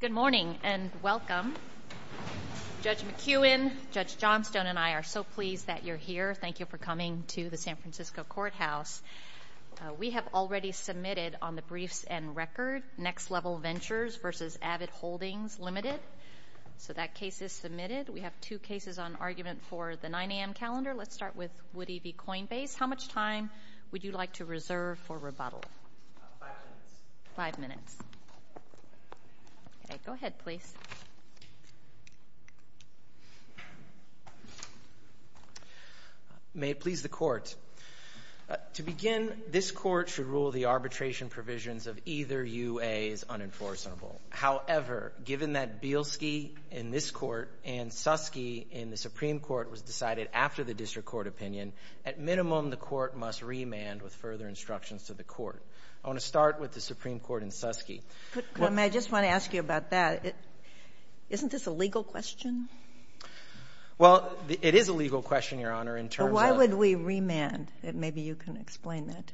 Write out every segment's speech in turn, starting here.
Good morning and welcome. Judge McEwen, Judge Johnstone, and I are so pleased that you're here. Thank you for coming to the San Francisco Courthouse. We have already submitted on the briefs and record Next Level Ventures v. Avid Holdings Ltd. So that case is submitted. We have two cases on argument for the 9 a.m. calendar. Let's start with Woody v. Coinbase. How much time would you like to reserve for rebuttal? Five minutes. Five minutes. Okay, go ahead, please. May it please the Court. To begin, this Court should rule the arbitration provisions of either UA as unenforceable. However, given that Bielski in this Court and Suskie in the Supreme Court was decided after the District Court opinion, at minimum the Court must remand with further instructions to the Court. I want to start with the Supreme Court and Suskie. I just want to ask you about that. Isn't this a legal question? Well, it is a legal question, Your Honor, in terms of— Why would we remand? Maybe you can explain that.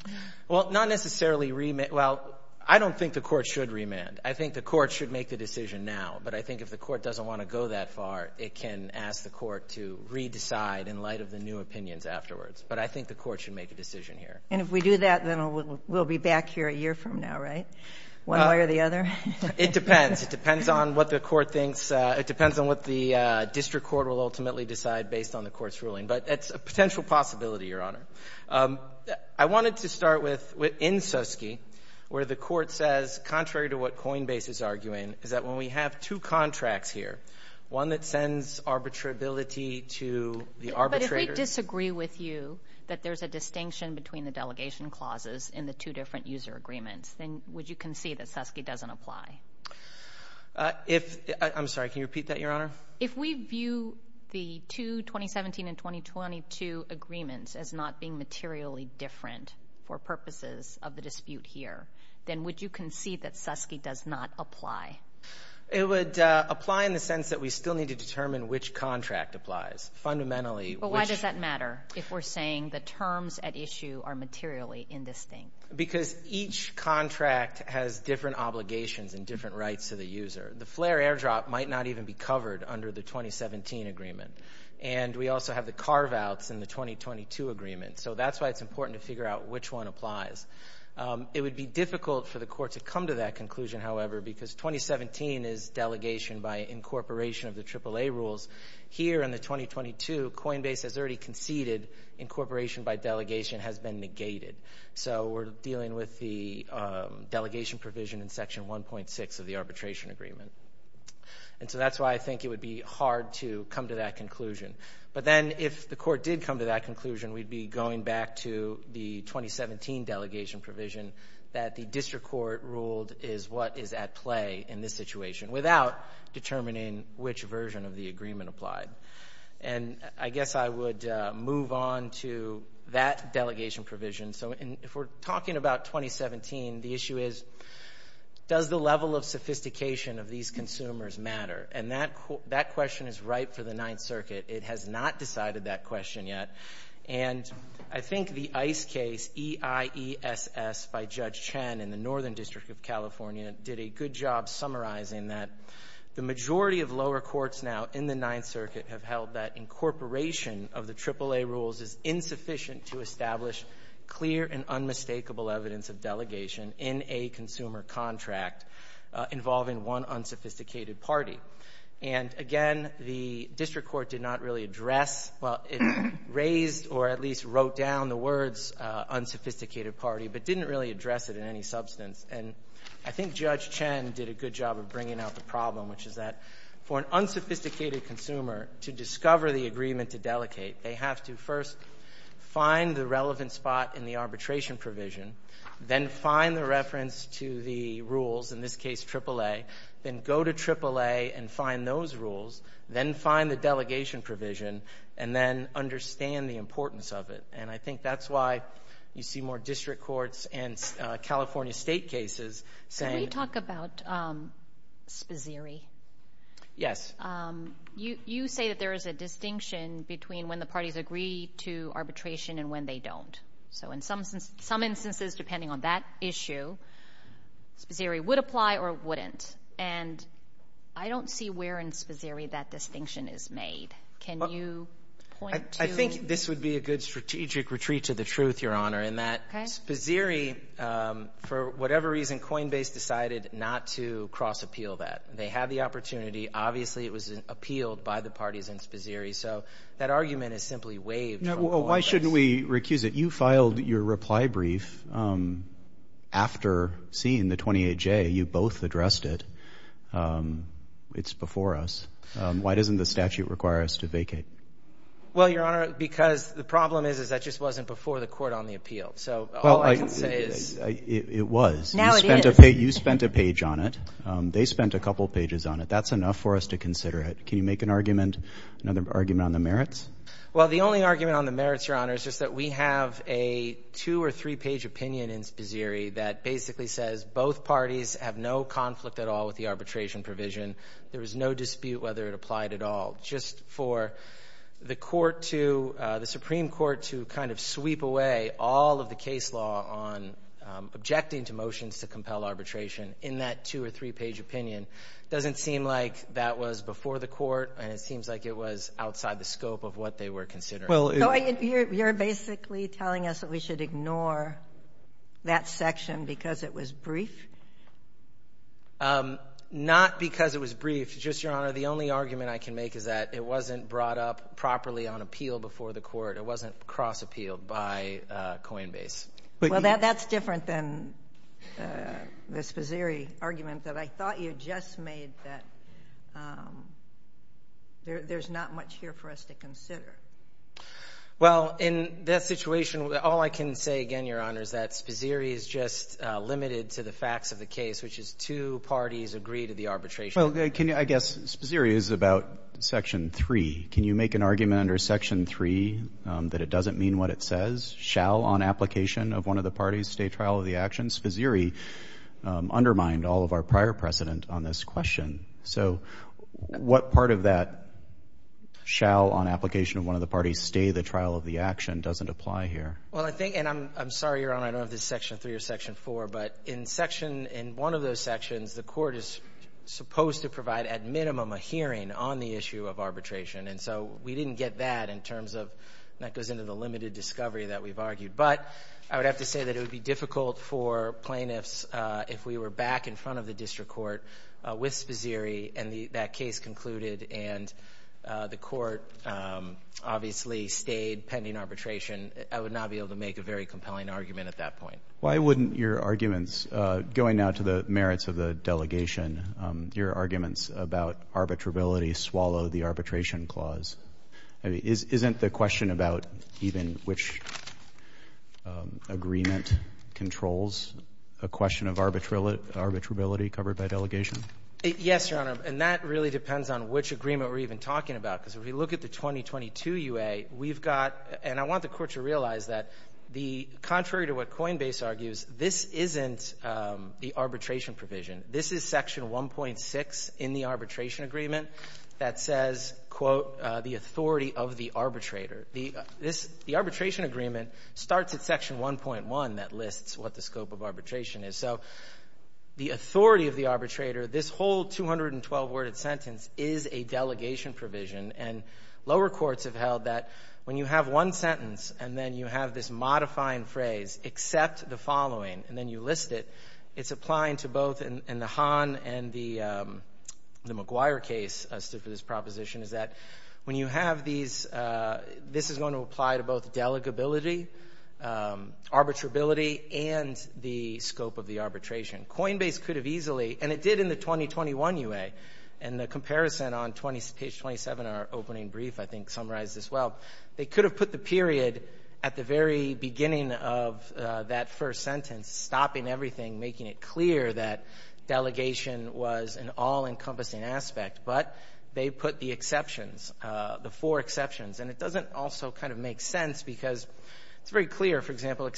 Well, not necessarily—well, I don't think the Court should remand. I think the Court should make the decision now. But I think if the Court doesn't want to go that far, it can ask the Court to re-decide in light of the new opinions afterwards. But I think the Court should make a decision here. And if we do that, then we'll be back here a year from now, right, one way or the other? It depends. It depends on what the District Court will ultimately decide based on the Court's ruling. But it's a potential possibility, Your Honor. I wanted to start in Suskie where the Court says, contrary to what Coinbase is arguing, is that when we have two contracts here, one that sends arbitrability to the arbitrator— But if we disagree with you that there's a distinction between the delegation clauses in the two different user agreements, then would you concede that Suskie doesn't apply? I'm sorry, can you repeat that, Your Honor? If we view the two 2017 and 2022 agreements as not being materially different for purposes of the dispute here, then would you concede that Suskie does not apply? It would apply in the sense that we still need to determine which contract applies. Fundamentally, which— But why does that matter if we're saying the terms at issue are materially indistinct? Because each contract has different obligations and different rights to the user. The flair airdrop might not even be covered under the 2017 agreement. And we also have the carve-outs in the 2022 agreement. So that's why it's important to figure out which one applies. It would be difficult for the Court to come to that conclusion, however, because 2017 is delegation by incorporation of the AAA rules. Here in the 2022, Coinbase has already conceded incorporation by delegation has been negated. So we're dealing with the delegation provision in Section 1.6 of the arbitration agreement. And so that's why I think it would be hard to come to that conclusion. But then if the Court did come to that conclusion, we'd be going back to the 2017 delegation provision that the district court ruled is what is at play in this situation without determining which version of the agreement applied. And I guess I would move on to that delegation provision. So if we're talking about 2017, the issue is does the level of sophistication of these consumers matter? And that question is ripe for the Ninth Circuit. It has not decided that question yet. And I think the ICE case, E-I-E-S-S, by Judge Chen in the Northern District of California, did a good job summarizing that. The majority of lower courts now in the Ninth Circuit have held that incorporation of the AAA rules is insufficient to establish clear and unmistakable evidence of delegation in a consumer contract involving one unsophisticated party. And again, the district court did not really address, well, it raised or at least wrote down the words unsophisticated party, but didn't really address it in any substance. And I think Judge Chen did a good job of bringing out the problem, which is that for an unsophisticated consumer to discover the agreement to delegate, they have to first find the relevant spot in the arbitration provision, then find the reference to the rules, in this case AAA, then go to AAA and find those rules, then find the delegation provision, and then understand the importance of it. And I think that's why you see more district courts and California state cases saying— Can we talk about Spazzeri? Yes. You say that there is a distinction between when the parties agree to arbitration and when they don't. So in some instances, depending on that issue, Spazzeri would apply or wouldn't. And I don't see where in Spazzeri that distinction is made. Can you point to— I think this would be a good strategic retreat to the truth, Your Honor, in that Spazzeri, for whatever reason, Coinbase decided not to cross-appeal that. They had the opportunity. Obviously, it was appealed by the parties in Spazzeri. So that argument is simply waived from all of us. Why shouldn't we recuse it? You filed your reply brief after seeing the 28J. You both addressed it. It's before us. Why doesn't the statute require us to vacate? Well, Your Honor, because the problem is that just wasn't before the court on the appeal. So all I can say is— It was. Now it is. You spent a page on it. They spent a couple pages on it. That's enough for us to consider it. Can you make another argument on the merits? Well, the only argument on the merits, Your Honor, is just that we have a two- or three-page opinion in Spazzeri that basically says both parties have no conflict at all with the arbitration provision. There was no dispute whether it applied at all. Just for the Supreme Court to kind of sweep away all of the case law on objecting to motions to compel arbitration in that two- or three-page opinion doesn't seem like that was before the court, and it seems like it was outside the scope of what they were considering. So you're basically telling us that we should ignore that section because it was brief? Not because it was brief. Just, Your Honor, the only argument I can make is that it wasn't brought up properly on appeal before the court. It wasn't cross-appealed by Coinbase. Well, that's different than the Spazzeri argument that I thought you just made, that there's not much here for us to consider. Well, in that situation, all I can say again, Your Honor, is that Spazzeri is just limited to the facts of the case, which is two parties agree to the arbitration. Well, I guess Spazzeri is about Section 3. Can you make an argument under Section 3 that it doesn't mean what it says? Shall, on application of one of the parties, stay trial of the actions? Spazzeri undermined all of our prior precedent on this question. So what part of that shall, on application of one of the parties, stay the trial of the action doesn't apply here? Well, I think, and I'm sorry, Your Honor, I don't know if this is Section 3 or Section 4, but in one of those sections, the court is supposed to provide, at minimum, a hearing on the issue of arbitration. And so we didn't get that in terms of that goes into the limited discovery that we've argued. But I would have to say that it would be difficult for plaintiffs if we were back in front of the district court with Spazzeri and that case concluded and the court obviously stayed pending arbitration. I would not be able to make a very compelling argument at that point. Why wouldn't your arguments, going now to the merits of the delegation, your arguments about arbitrability swallow the arbitration clause? Isn't the question about even which agreement controls a question of arbitrability covered by delegation? Yes, Your Honor, and that really depends on which agreement we're even talking about, because if we look at the 2022 UA, we've got, and I want the court to realize that the contrary to what Coinbase argues, this isn't the arbitration provision. This is Section 1.6 in the arbitration agreement that says, quote, the authority of the arbitrator. The arbitration agreement starts at Section 1.1 that lists what the scope of arbitration is. So the authority of the arbitrator, this whole 212-word sentence is a delegation provision, and lower courts have held that when you have one sentence and then you have this modifying phrase, accept the following, and then you list it, it's applying to both in the Hahn and the McGuire case, as to this proposition, is that when you have these, this is going to apply to both delegability, arbitrability, and the scope of the arbitration. Coinbase could have easily, and it did in the 2021 UA, and the comparison on page 27, our opening brief, I think summarized this well, they could have put the period at the very beginning of that first sentence, stopping everything, making it clear that delegation was an all-encompassing aspect, but they put the exceptions, the four exceptions. And it doesn't also kind of make sense because it's very clear, for example,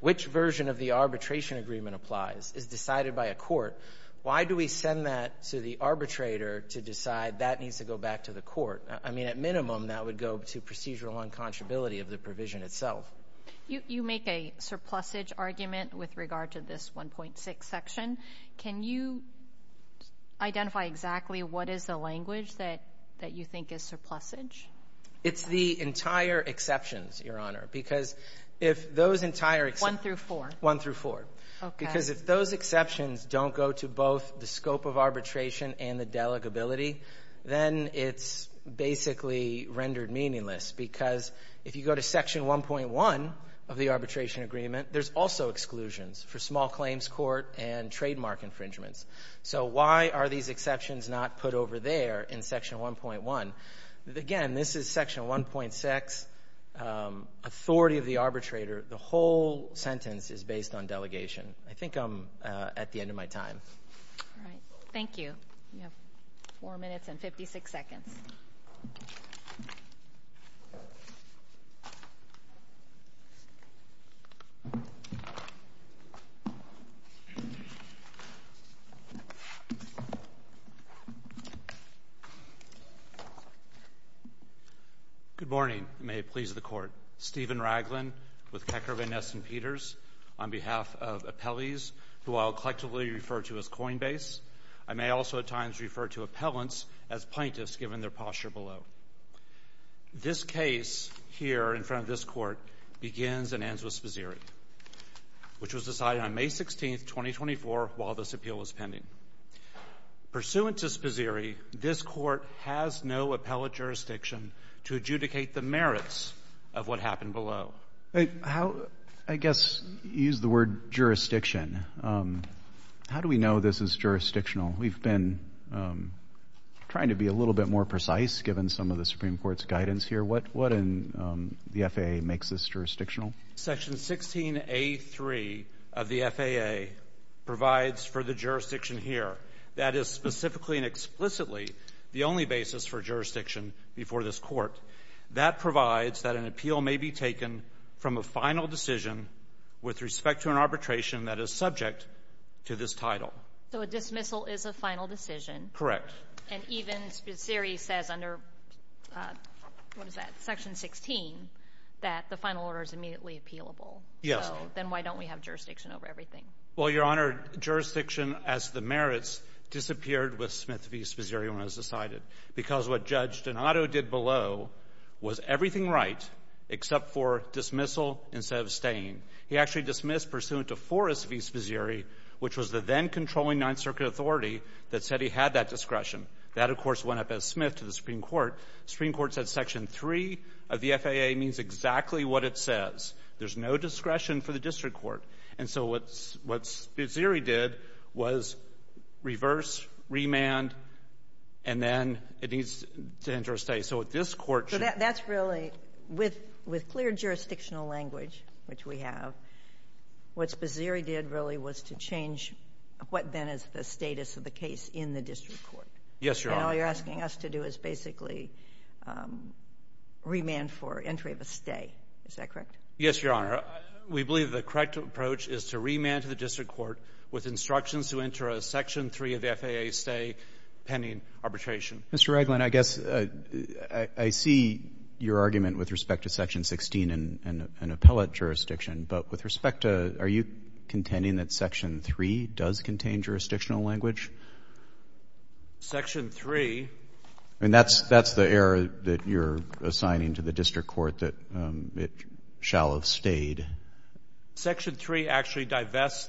which version of the arbitration agreement applies is decided by a court. Why do we send that to the arbitrator to decide that needs to go back to the court? I mean, at minimum, that would go to procedural unconscionability of the provision itself. You make a surplusage argument with regard to this 1.6 section. Can you identify exactly what is the language that you think is surplusage? It's the entire exceptions, Your Honor, because if those entire exceptions. One through four. One through four. Okay. Because if those exceptions don't go to both the scope of arbitration and the delegability, then it's basically rendered meaningless because if you go to section 1.1 of the arbitration agreement, there's also exclusions for small claims court and trademark infringements. So why are these exceptions not put over there in section 1.1? Again, this is section 1.6, authority of the arbitrator. The whole sentence is based on delegation. I think I'm at the end of my time. All right. Thank you. You have four minutes and 56 seconds. Good morning. May it please the Court. Stephen Raglin with Kecker, Van Ness, and Peters on behalf of appellees, who I'll collectively refer to as Coinbase. I may also at times refer to appellants as plaintiffs given their posture below. This case here in front of this Court begins and ends with Sposiri, which was decided on May 16, 2024, while this appeal was pending. Pursuant to Sposiri, this Court has no appellate jurisdiction to adjudicate the merits of what happened below. I guess you used the word jurisdiction. How do we know this is jurisdictional? We've been trying to be a little bit more precise given some of the Supreme Court's guidance here. What in the FAA makes this jurisdictional? Section 16A3 of the FAA provides for the jurisdiction here. That is specifically and explicitly the only basis for jurisdiction before this Court. That provides that an appeal may be taken from a final decision with respect to an arbitration that is subject to this title. So a dismissal is a final decision? Correct. And even Sposiri says under Section 16 that the final order is immediately appealable. Yes. Then why don't we have jurisdiction over everything? Well, Your Honor, jurisdiction as the merits disappeared with Smith v. Sposiri when it was decided because what Judge Donato did below was everything right except for dismissal instead of staying. He actually dismissed pursuant to Forrest v. Sposiri, which was the then-controlling Ninth Circuit authority that said he had that discretion. That, of course, went up as Smith to the Supreme Court. The Supreme Court said Section 3 of the FAA means exactly what it says. There's no discretion for the district court. And so what Sposiri did was reverse, remand, and then it needs to enter a state. So that's really, with clear jurisdictional language, which we have, what Sposiri did really was to change what then is the status of the case in the district court. Yes, Your Honor. And all you're asking us to do is basically remand for entry of a stay. Is that correct? Yes, Your Honor. We believe the correct approach is to remand to the district court with instructions to enter a Section 3 of the FAA stay pending arbitration. Mr. Raglin, I guess I see your argument with respect to Section 16 and appellate jurisdiction, but with respect to are you contending that Section 3 does contain jurisdictional language? Section 3. And that's the error that you're assigning to the district court that it shall have stayed. Section 3 actually divests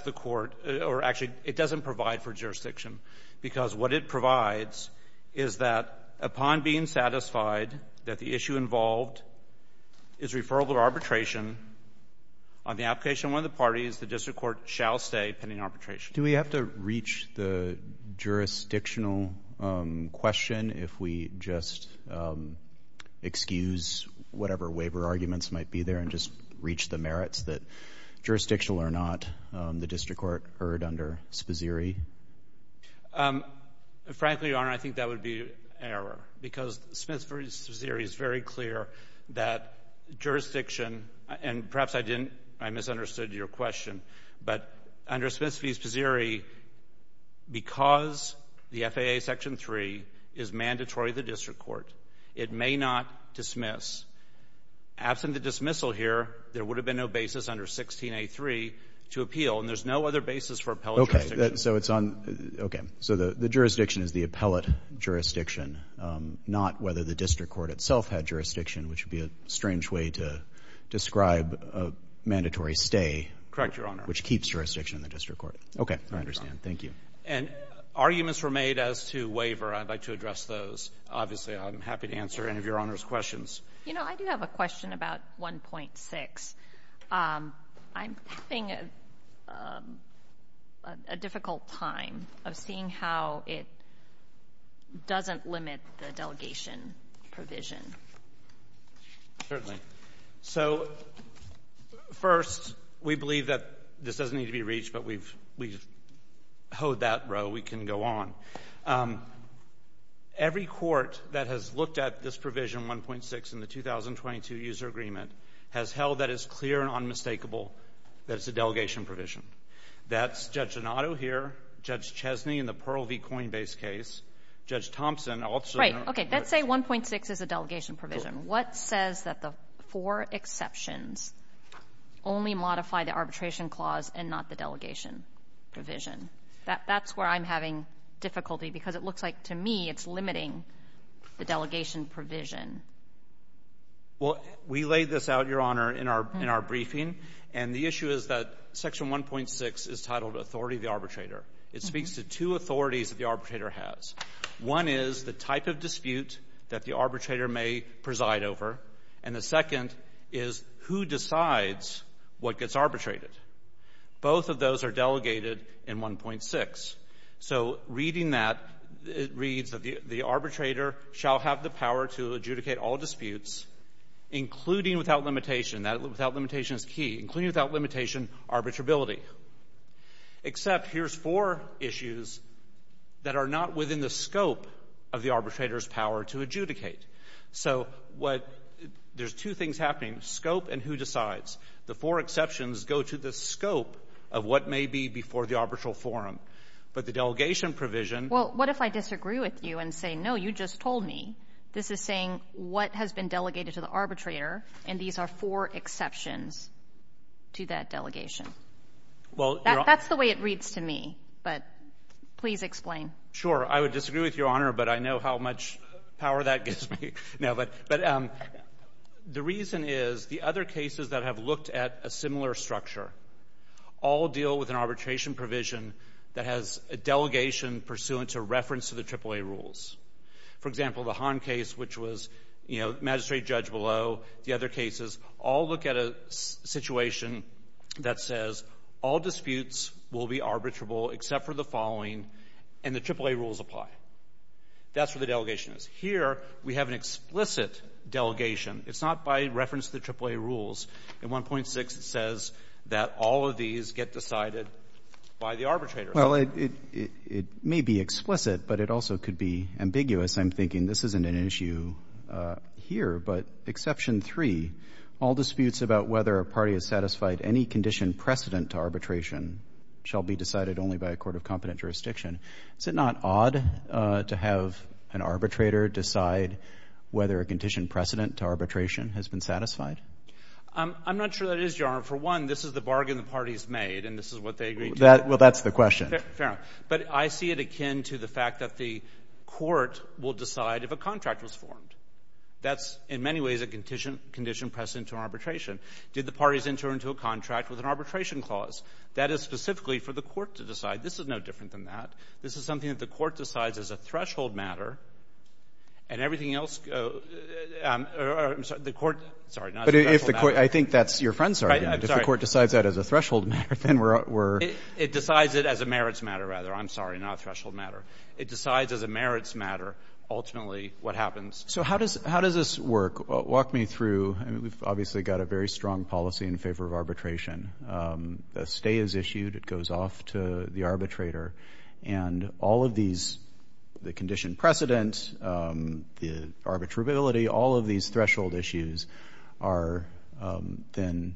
the court or actually it doesn't provide for jurisdiction because what it provides is that upon being satisfied that the issue involved is referral to arbitration, on the application of one of the parties, the district court shall stay pending arbitration. Do we have to reach the jurisdictional question if we just excuse whatever waiver arguments might be there and just reach the merits that jurisdictional or not, the district court heard under Sposiri? Frankly, Your Honor, I think that would be an error because Smith v. Sposiri is very clear that jurisdiction and perhaps I misunderstood your question, but under Smith v. Sposiri, because the FAA Section 3 is mandatory to the district court, it may not dismiss. Absent the dismissal here, there would have been no basis under 16A3 to appeal and there's no other basis for appellate jurisdiction. Okay. So it's on – okay. So the jurisdiction is the appellate jurisdiction, not whether the district court itself had jurisdiction, which would be a strange way to describe a mandatory stay. Correct, Your Honor. Which keeps jurisdiction in the district court. Okay. I understand. Thank you. And arguments were made as to waiver. I'd like to address those. Obviously, I'm happy to answer any of Your Honor's questions. You know, I do have a question about 1.6. I'm having a difficult time of seeing how it doesn't limit the delegation provision. Certainly. So first, we believe that this doesn't need to be reached, but we've hoed that row. We can go on. Every court that has looked at this provision, 1.6, in the 2022 user agreement, has held that it's clear and unmistakable that it's a delegation provision. That's Judge Donato here, Judge Chesney in the Pearl v. Coinbase case, Judge Thompson also. Right. Okay. Let's say 1.6 is a delegation provision. What says that the four exceptions only modify the arbitration clause and not the delegation provision? That's where I'm having difficulty because it looks like, to me, it's limiting the delegation provision. Well, we laid this out, Your Honor, in our briefing, and the issue is that Section 1.6 is titled Authority of the Arbitrator. It speaks to two authorities that the arbitrator has. One is the type of dispute that the arbitrator may preside over, and the second is who decides what gets arbitrated. Both of those are delegated in 1.6. So reading that, it reads that the arbitrator shall have the power to adjudicate all disputes, including without limitation. Without limitation is key. Including without limitation, arbitrability. Except here's four issues that are not within the scope of the arbitrator's power to adjudicate. So there's two things happening, scope and who decides. The four exceptions go to the scope of what may be before the arbitral forum. But the delegation provision. Well, what if I disagree with you and say, no, you just told me. This is saying what has been delegated to the arbitrator, and these are four exceptions to that delegation. That's the way it reads to me, but please explain. Sure. I would disagree with you, Your Honor, but I know how much power that gives me. No, but the reason is the other cases that have looked at a similar structure all deal with an arbitration provision that has a delegation pursuant to reference to the AAA rules. For example, the Hahn case, which was, you know, magistrate judge below the other cases, all look at a situation that says all disputes will be arbitrable except for the following, and the AAA rules apply. That's where the delegation is. Here we have an explicit delegation. It's not by reference to the AAA rules. In 1.6 it says that all of these get decided by the arbitrator. Well, it may be explicit, but it also could be ambiguous. I'm thinking this isn't an issue here, but exception three, all disputes about whether a party has satisfied any condition precedent to arbitration shall be decided only by a court of competent jurisdiction. Is it not odd to have an arbitrator decide whether a condition precedent to arbitration has been satisfied? I'm not sure that is, Your Honor. For one, this is the bargain the parties made, and this is what they agreed to. Well, that's the question. Fair enough. But I see it akin to the fact that the court will decide if a contract was formed. That's in many ways a condition precedent to arbitration. Did the parties enter into a contract with an arbitration clause? That is specifically for the court to decide. This is no different than that. This is something that the court decides as a threshold matter, and everything else goes to the court. I think that's your friend's argument. If the court decides that as a threshold matter, then we're— It decides it as a merits matter, rather. I'm sorry, not a threshold matter. It decides as a merits matter ultimately what happens. So how does this work? Walk me through. We've obviously got a very strong policy in favor of arbitration. A stay is issued. It goes off to the arbitrator. And all of these, the condition precedent, the arbitrability, all of these threshold issues are then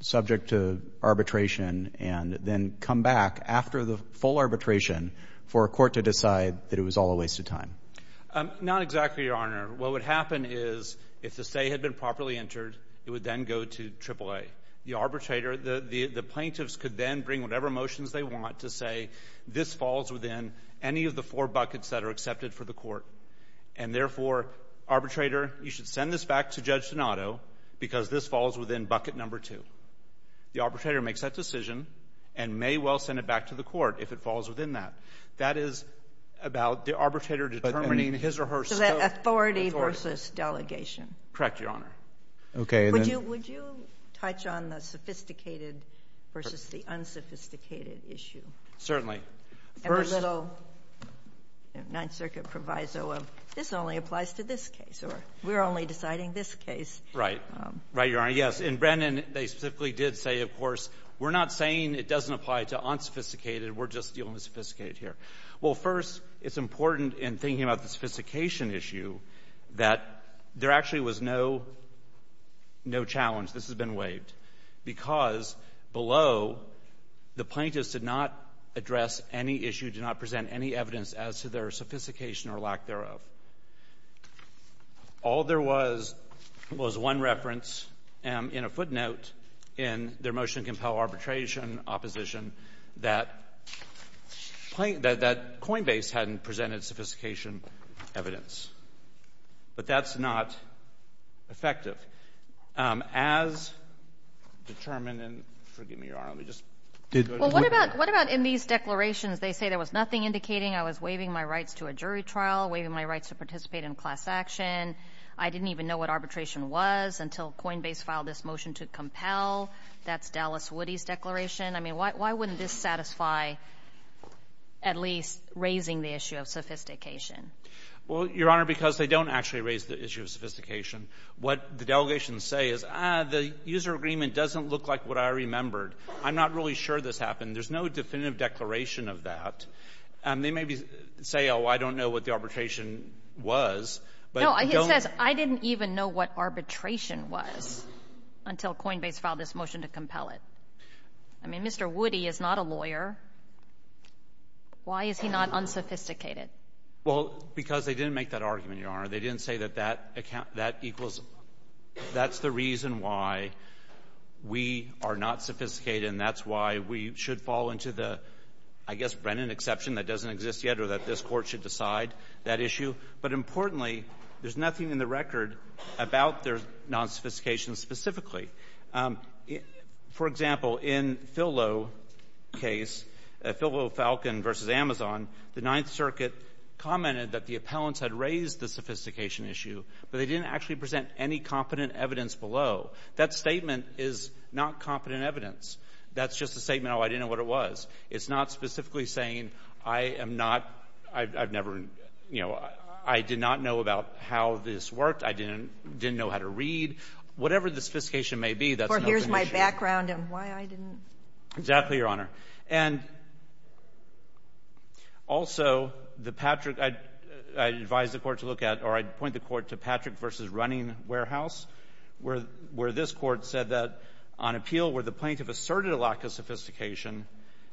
subject to arbitration and then come back after the full arbitration for a court to decide that it was all a waste of time. Not exactly, Your Honor. What would happen is if the stay had been properly entered, it would then go to AAA. The arbitrator, the plaintiffs could then bring whatever motions they want to say this falls within any of the four buckets that are accepted for the court. And therefore, arbitrator, you should send this back to Judge Donato because this falls within bucket number two. The arbitrator makes that decision and may well send it back to the court if it falls within that. That is about the arbitrator determining his or her scope. Authority versus delegation. Correct, Your Honor. Would you touch on the sophisticated versus the unsophisticated issue? Certainly. And a little Ninth Circuit proviso of this only applies to this case or we're only deciding this case. Right, Your Honor. Yes. In Brennan, they specifically did say, of course, we're not saying it doesn't apply to unsophisticated. We're just dealing with sophisticated here. Well, first, it's important in thinking about the sophistication issue that there actually was no challenge. This has been waived. Because below, the plaintiffs did not address any issue, did not present any evidence as to their sophistication or lack thereof. All there was was one reference in a footnote in their motion to compel arbitration, opposition, that Coinbase hadn't presented sophistication evidence. But that's not effective. As determined in — forgive me, Your Honor. Let me just — Well, what about in these declarations, they say there was nothing indicating I was waiving my rights to a jury trial, waiving my rights to participate in class action. I didn't even know what arbitration was until Coinbase filed this motion to compel. That's Dallas Woody's declaration. I mean, why wouldn't this satisfy at least raising the issue of sophistication? Well, Your Honor, because they don't actually raise the issue of sophistication. What the delegations say is, ah, the user agreement doesn't look like what I remembered. I'm not really sure this happened. There's no definitive declaration of that. They maybe say, oh, I don't know what the arbitration was. No, it says, I didn't even know what arbitration was until Coinbase filed this motion to compel it. I mean, Mr. Woody is not a lawyer. Why is he not unsophisticated? Well, because they didn't make that argument, Your Honor. They didn't say that that equals — that's the reason why we are not sophisticated and that's why we should fall into the, I guess, Brennan exception that doesn't exist yet or that this Court should decide that issue. But importantly, there's nothing in the record about their nonsophistication specifically. For example, in Phil Lowe's case, Phil Lowe-Falcon v. Amazon, the Ninth Circuit commented that the appellants had raised the sophistication issue, but they didn't actually present any confident evidence below. That statement is not confident evidence. That's just a statement, oh, I didn't know what it was. It's not specifically saying, I am not — I've never — you know, I did not know about how this worked. I didn't know how to read. Whatever the sophistication may be, that's not the issue. Or here's my background and why I didn't. Exactly, Your Honor. And also, the Patrick — I'd advise the Court to look at, or I'd point the Court to Patrick v. Running Warehouse, where this Court said that on appeal where the plaintiff asserted a lack of sophistication,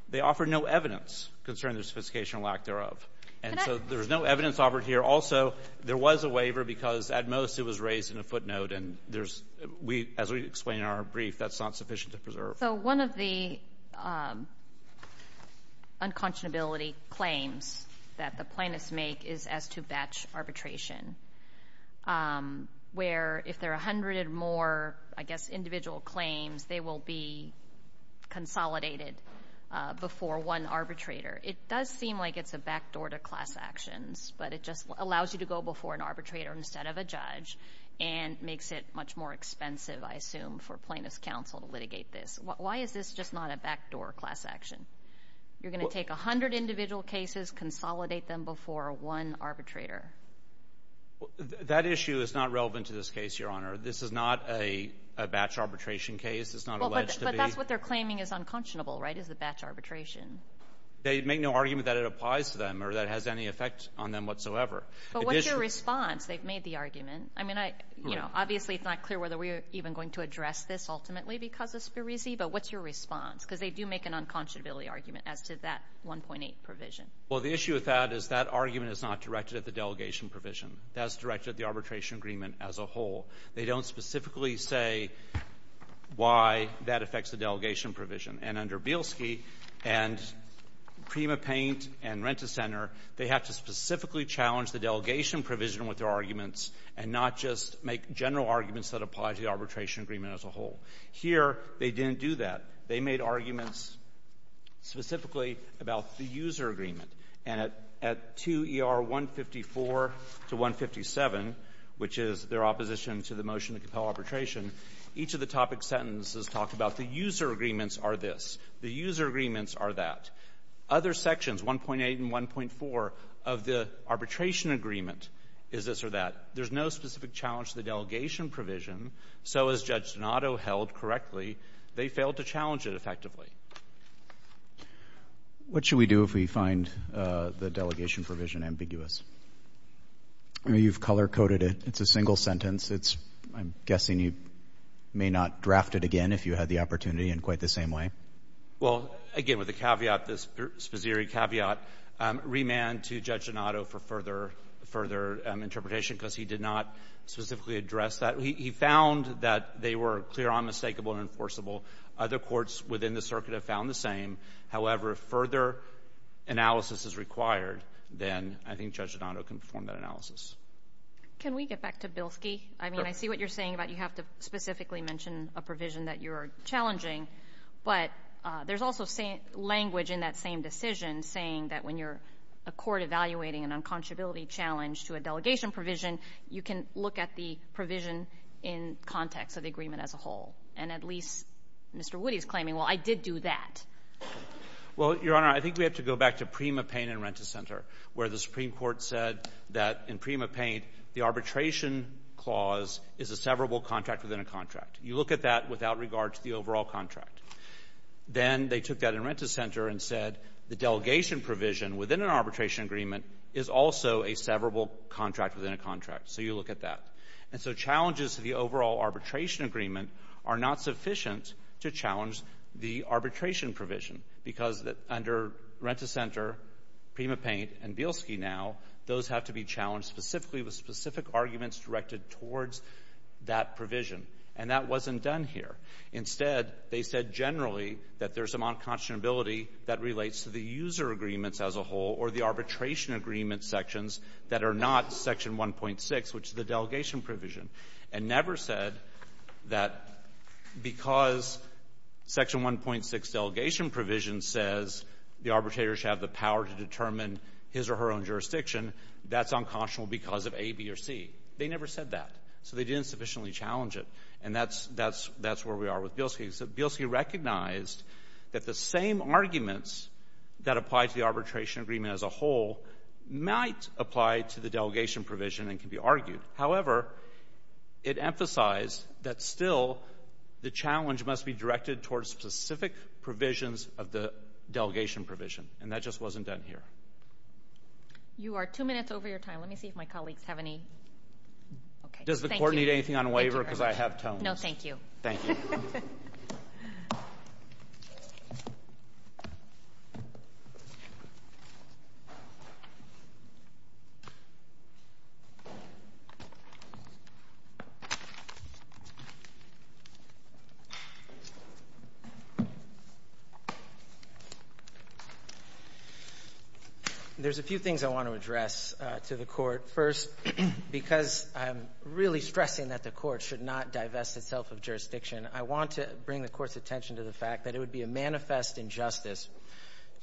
they offered no evidence concerning the sophistication or lack thereof. And so there's no evidence offered here. Also, there was a waiver because, at most, it was raised in a footnote, and there's — as we explain in our brief, that's not sufficient to preserve. So one of the unconscionability claims that the plaintiffs make is as to batch arbitration, where if there are a hundred or more, I guess, individual claims, they will be consolidated before one arbitrator. It does seem like it's a backdoor to class actions, but it just allows you to go before an arbitrator instead of a judge and makes it much more expensive, I assume, for plaintiffs' counsel to litigate this. Why is this just not a backdoor class action? You're going to take a hundred individual cases, consolidate them before one arbitrator? That issue is not relevant to this case, Your Honor. This is not a batch arbitration case. It's not alleged to be. But that's what they're claiming is unconscionable, right, is the batch arbitration. They make no argument that it applies to them or that it has any effect on them whatsoever. But what's your response? They've made the argument. I mean, obviously it's not clear whether we're even going to address this ultimately because of Spirizzi, but what's your response? Because they do make an unconscionability argument as to that 1.8 provision. Well, the issue with that is that argument is not directed at the delegation provision. That is directed at the arbitration agreement as a whole. They don't specifically say why that affects the delegation provision. And under Bielski and PrimaPaint and Rent-a-Center, they have to specifically challenge the delegation provision with their arguments and not just make general arguments that apply to the arbitration agreement as a whole. Here they didn't do that. They made arguments specifically about the user agreement. And at 2 ER 154 to 157, which is their opposition to the motion to compel arbitration, each of the topic sentences talk about the user agreements are this, the user agreements are that. Other sections, 1.8 and 1.4 of the arbitration agreement is this or that. There's no specific challenge to the delegation provision. So as Judge Donato held correctly, they failed to challenge it effectively. What should we do if we find the delegation provision ambiguous? I mean, you've color-coded it. It's a single sentence. I'm guessing you may not draft it again if you had the opportunity in quite the same way. Well, again, with the caveat, the Spazzieri caveat, remand to Judge Donato for further interpretation because he did not specifically address that. He found that they were clear, unmistakable, and enforceable. Other courts within the circuit have found the same. However, if further analysis is required, then I think Judge Donato can perform that analysis. Can we get back to Bielski? I mean, I see what you're saying about you have to specifically mention a provision that you're challenging. But there's also language in that same decision saying that when you're a court evaluating an unconscionability challenge to a delegation provision, you can look at the provision in context of the agreement as a whole. And at least Mr. Woody is claiming, well, I did do that. Well, Your Honor, I think we have to go back to Prima Paint and Rent-a-Center, where the Supreme Court said that in Prima Paint, the arbitration clause is a severable contract within a contract. You look at that without regard to the overall contract. Then they took that in Rent-a-Center and said the delegation provision within an arbitration agreement is also a severable contract within a contract. So you look at that. And so challenges to the overall arbitration agreement are not sufficient to challenge the arbitration provision because under Rent-a-Center, Prima Paint, and Bielski now, those have to be challenged specifically with specific arguments directed towards that provision. And that wasn't done here. Instead, they said generally that there's unconscionability that relates to the user agreements as a whole or the arbitration agreement sections that are not Section 1.6, which is the delegation provision, and never said that because Section 1.6 delegation provision says the arbitrator should have the power to determine his or her own jurisdiction, that's unconscionable because of A, B, or C. They never said that. So they didn't sufficiently challenge it. And that's where we are with Bielski. So Bielski recognized that the same arguments that apply to the arbitration agreement as a whole might apply to the delegation provision and can be argued. However, it emphasized that still the challenge must be directed towards specific provisions of the delegation provision. And that just wasn't done here. You are two minutes over your time. Let me see if my colleagues have any. Does the court need anything on waiver because I have tones? No, thank you. Thank you. There's a few things I want to address to the court. First, because I'm really stressing that the court should not divest itself of jurisdiction, I want to bring the court's attention to the fact that it would be a manifest injustice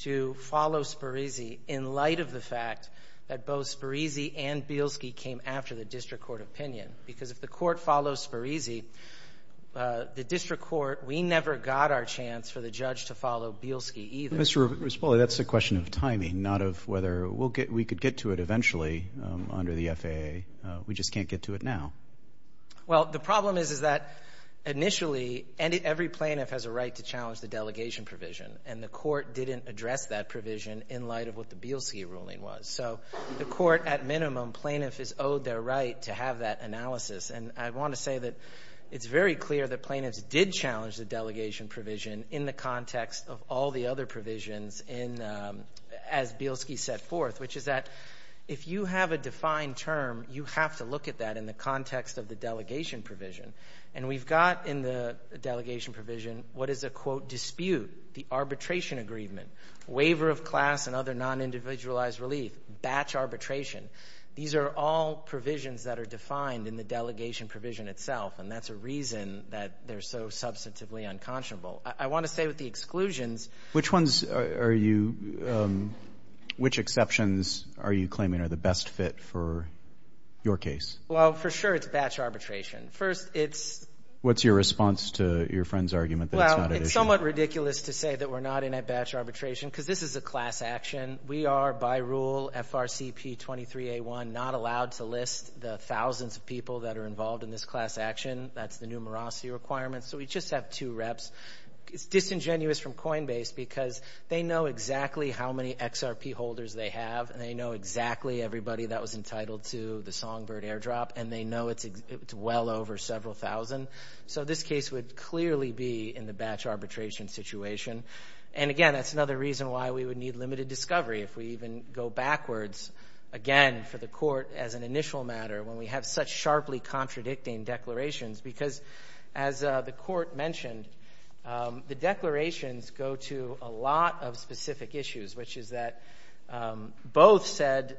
to follow Spirisi in light of the fact that both Spirisi and Bielski came after the district court opinion because if the court follows Spirisi, the district court, we never got our chance for the judge to follow Bielski either. Mr. Rispoli, that's a question of timing, not of whether we could get to it eventually under the FAA. We just can't get to it now. Well, the problem is that initially every plaintiff has a right to challenge the delegation provision, and the court didn't address that provision in light of what the Bielski ruling was. So the court, at minimum, plaintiff is owed their right to have that analysis. And I want to say that it's very clear that plaintiffs did challenge the delegation provision in the context of all the other provisions as Bielski set forth, which is that if you have a defined term, you have to look at that in the context of the delegation provision. And we've got in the delegation provision what is a, quote, dispute, the arbitration agreement, waiver of class and other non-individualized relief, batch arbitration. These are all provisions that are defined in the delegation provision itself, and that's a reason that they're so substantively unconscionable. I want to say with the exclusions – Which ones are you – which exceptions are you claiming are the best fit for your case? Well, for sure it's batch arbitration. First, it's – What's your response to your friend's argument that it's not an issue? Well, it's somewhat ridiculous to say that we're not in a batch arbitration because this is a class action. We are, by rule, FRCP23A1, not allowed to list the thousands of people that are involved in this class action. That's the numerosity requirement. So we just have two reps. It's disingenuous from Coinbase because they know exactly how many XRP holders they have, and they know exactly everybody that was entitled to the Songbird airdrop, and they know it's well over several thousand. So this case would clearly be in the batch arbitration situation. And, again, that's another reason why we would need limited discovery, if we even go backwards, again, for the court as an initial matter, when we have such sharply contradicting declarations. Because, as the court mentioned, the declarations go to a lot of specific issues, which is that both said,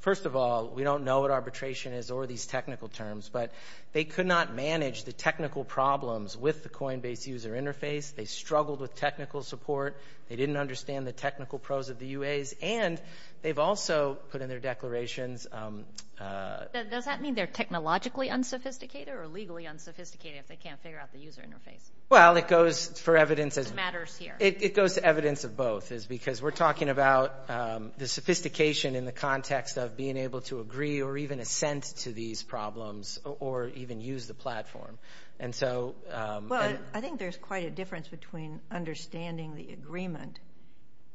first of all, we don't know what arbitration is or these technical terms, but they could not manage the technical problems with the Coinbase user interface. They struggled with technical support. They didn't understand the technical pros of the UAs. And they've also put in their declarations. Does that mean they're technologically unsophisticated or legally unsophisticated if they can't figure out the user interface? Well, it goes for evidence. It matters here. It goes to evidence of both, because we're talking about the sophistication in the context of being able to agree or even assent to these problems or even use the platform. Well, I think there's quite a difference between understanding the agreement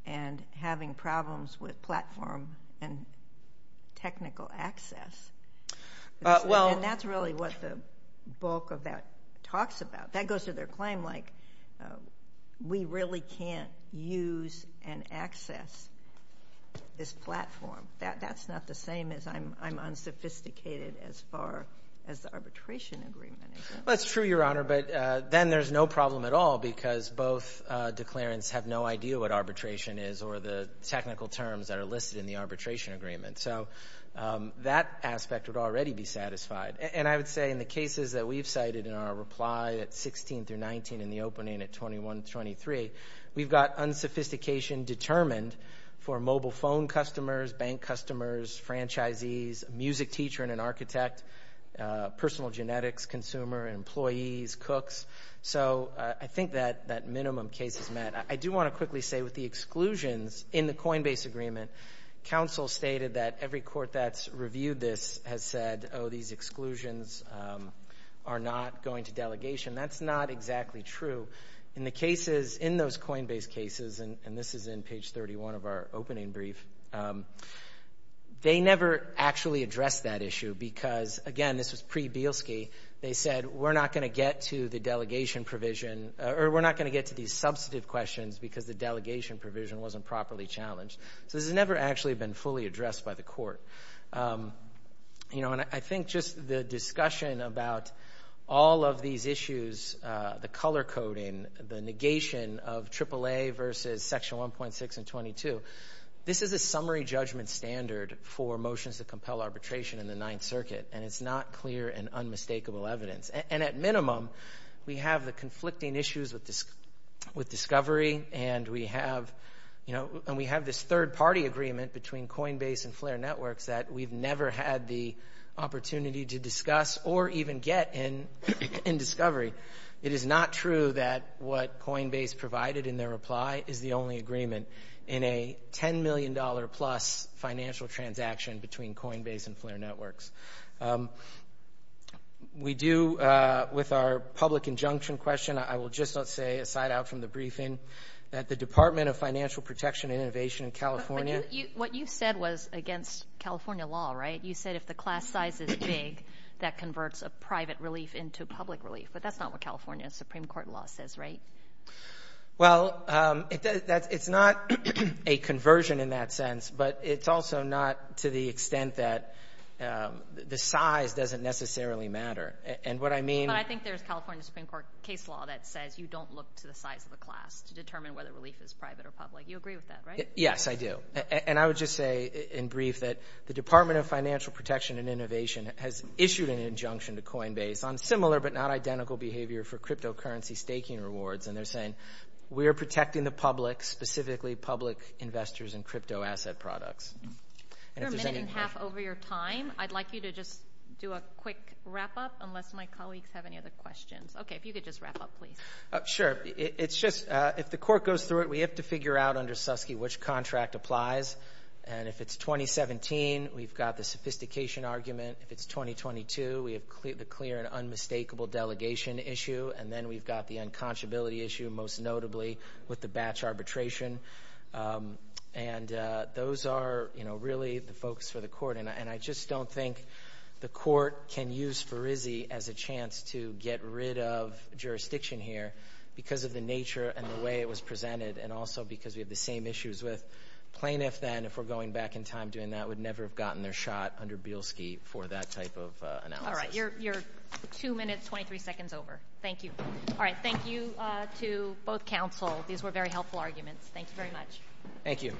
and having problems with platform and technical access. And that's really what the bulk of that talks about. That goes to their claim, like, we really can't use and access this platform. That's not the same as I'm unsophisticated as far as the arbitration agreement is. Well, that's true, Your Honor, but then there's no problem at all because both declarants have no idea what arbitration is or the technical terms that are listed in the arbitration agreement. So that aspect would already be satisfied. And I would say in the cases that we've cited in our reply at 16 through 19, in the opening at 21 to 23, we've got unsophistication determined for mobile phone customers, bank customers, franchisees, music teacher and an architect, personal genetics consumer, employees, cooks. So I think that minimum case is met. I do want to quickly say with the exclusions in the Coinbase agreement, counsel stated that every court that's reviewed this has said, oh, these exclusions are not going to delegation. That's not exactly true. In the cases in those Coinbase cases, and this is in page 31 of our opening brief, they never actually addressed that issue because, again, this was pre-Bielski. They said we're not going to get to the delegation provision or we're not going to get to these substantive questions because the delegation provision wasn't properly challenged. So this has never actually been fully addressed by the court. And I think just the discussion about all of these issues, the color coding, the negation of AAA versus Section 1.6 and 22, this is a summary judgment standard for motions that compel arbitration in the Ninth Circuit, and it's not clear and unmistakable evidence. And at minimum, we have the conflicting issues with Discovery and we have this third-party agreement between Coinbase and Flare Networks that we've never had the opportunity to discuss or even get in Discovery. It is not true that what Coinbase provided in their reply is the only agreement in a $10 million-plus financial transaction between Coinbase and Flare Networks. With our public injunction question, I will just say, aside out from the briefing, that the Department of Financial Protection and Innovation in California— What you said was against California law, right? You said if the class size is big, that converts a private relief into public relief, but that's not what California Supreme Court law says, right? Well, it's not a conversion in that sense, but it's also not to the extent that the size doesn't necessarily matter. And what I mean— But I think there's California Supreme Court case law that says you don't look to the size of the class to determine whether relief is private or public. You agree with that, right? Yes, I do. And I would just say in brief that the Department of Financial Protection and Innovation has issued an injunction to Coinbase on similar but not identical behavior for cryptocurrency staking rewards, and they're saying, we are protecting the public, specifically public investors in crypto asset products. You're a minute and a half over your time. I'd like you to just do a quick wrap-up unless my colleagues have any other questions. Okay, if you could just wrap up, please. Sure. It's just if the court goes through it, we have to figure out under Suskie which contract applies, and if it's 2017, we've got the sophistication argument. If it's 2022, we have the clear and unmistakable delegation issue, and then we've got the unconscionability issue, most notably with the batch arbitration. And those are, you know, really the focus for the court, and I just don't think the court can use FRISI as a chance to get rid of jurisdiction here because of the nature and the way it was presented and also because we have the same issues with plaintiffs, and if we're going back in time doing that, we'd never have gotten their shot under Bielski for that type of analysis. All right, you're two minutes, 23 seconds over. Thank you. All right, thank you to both counsel. These were very helpful arguments. Thank you very much. Thank you.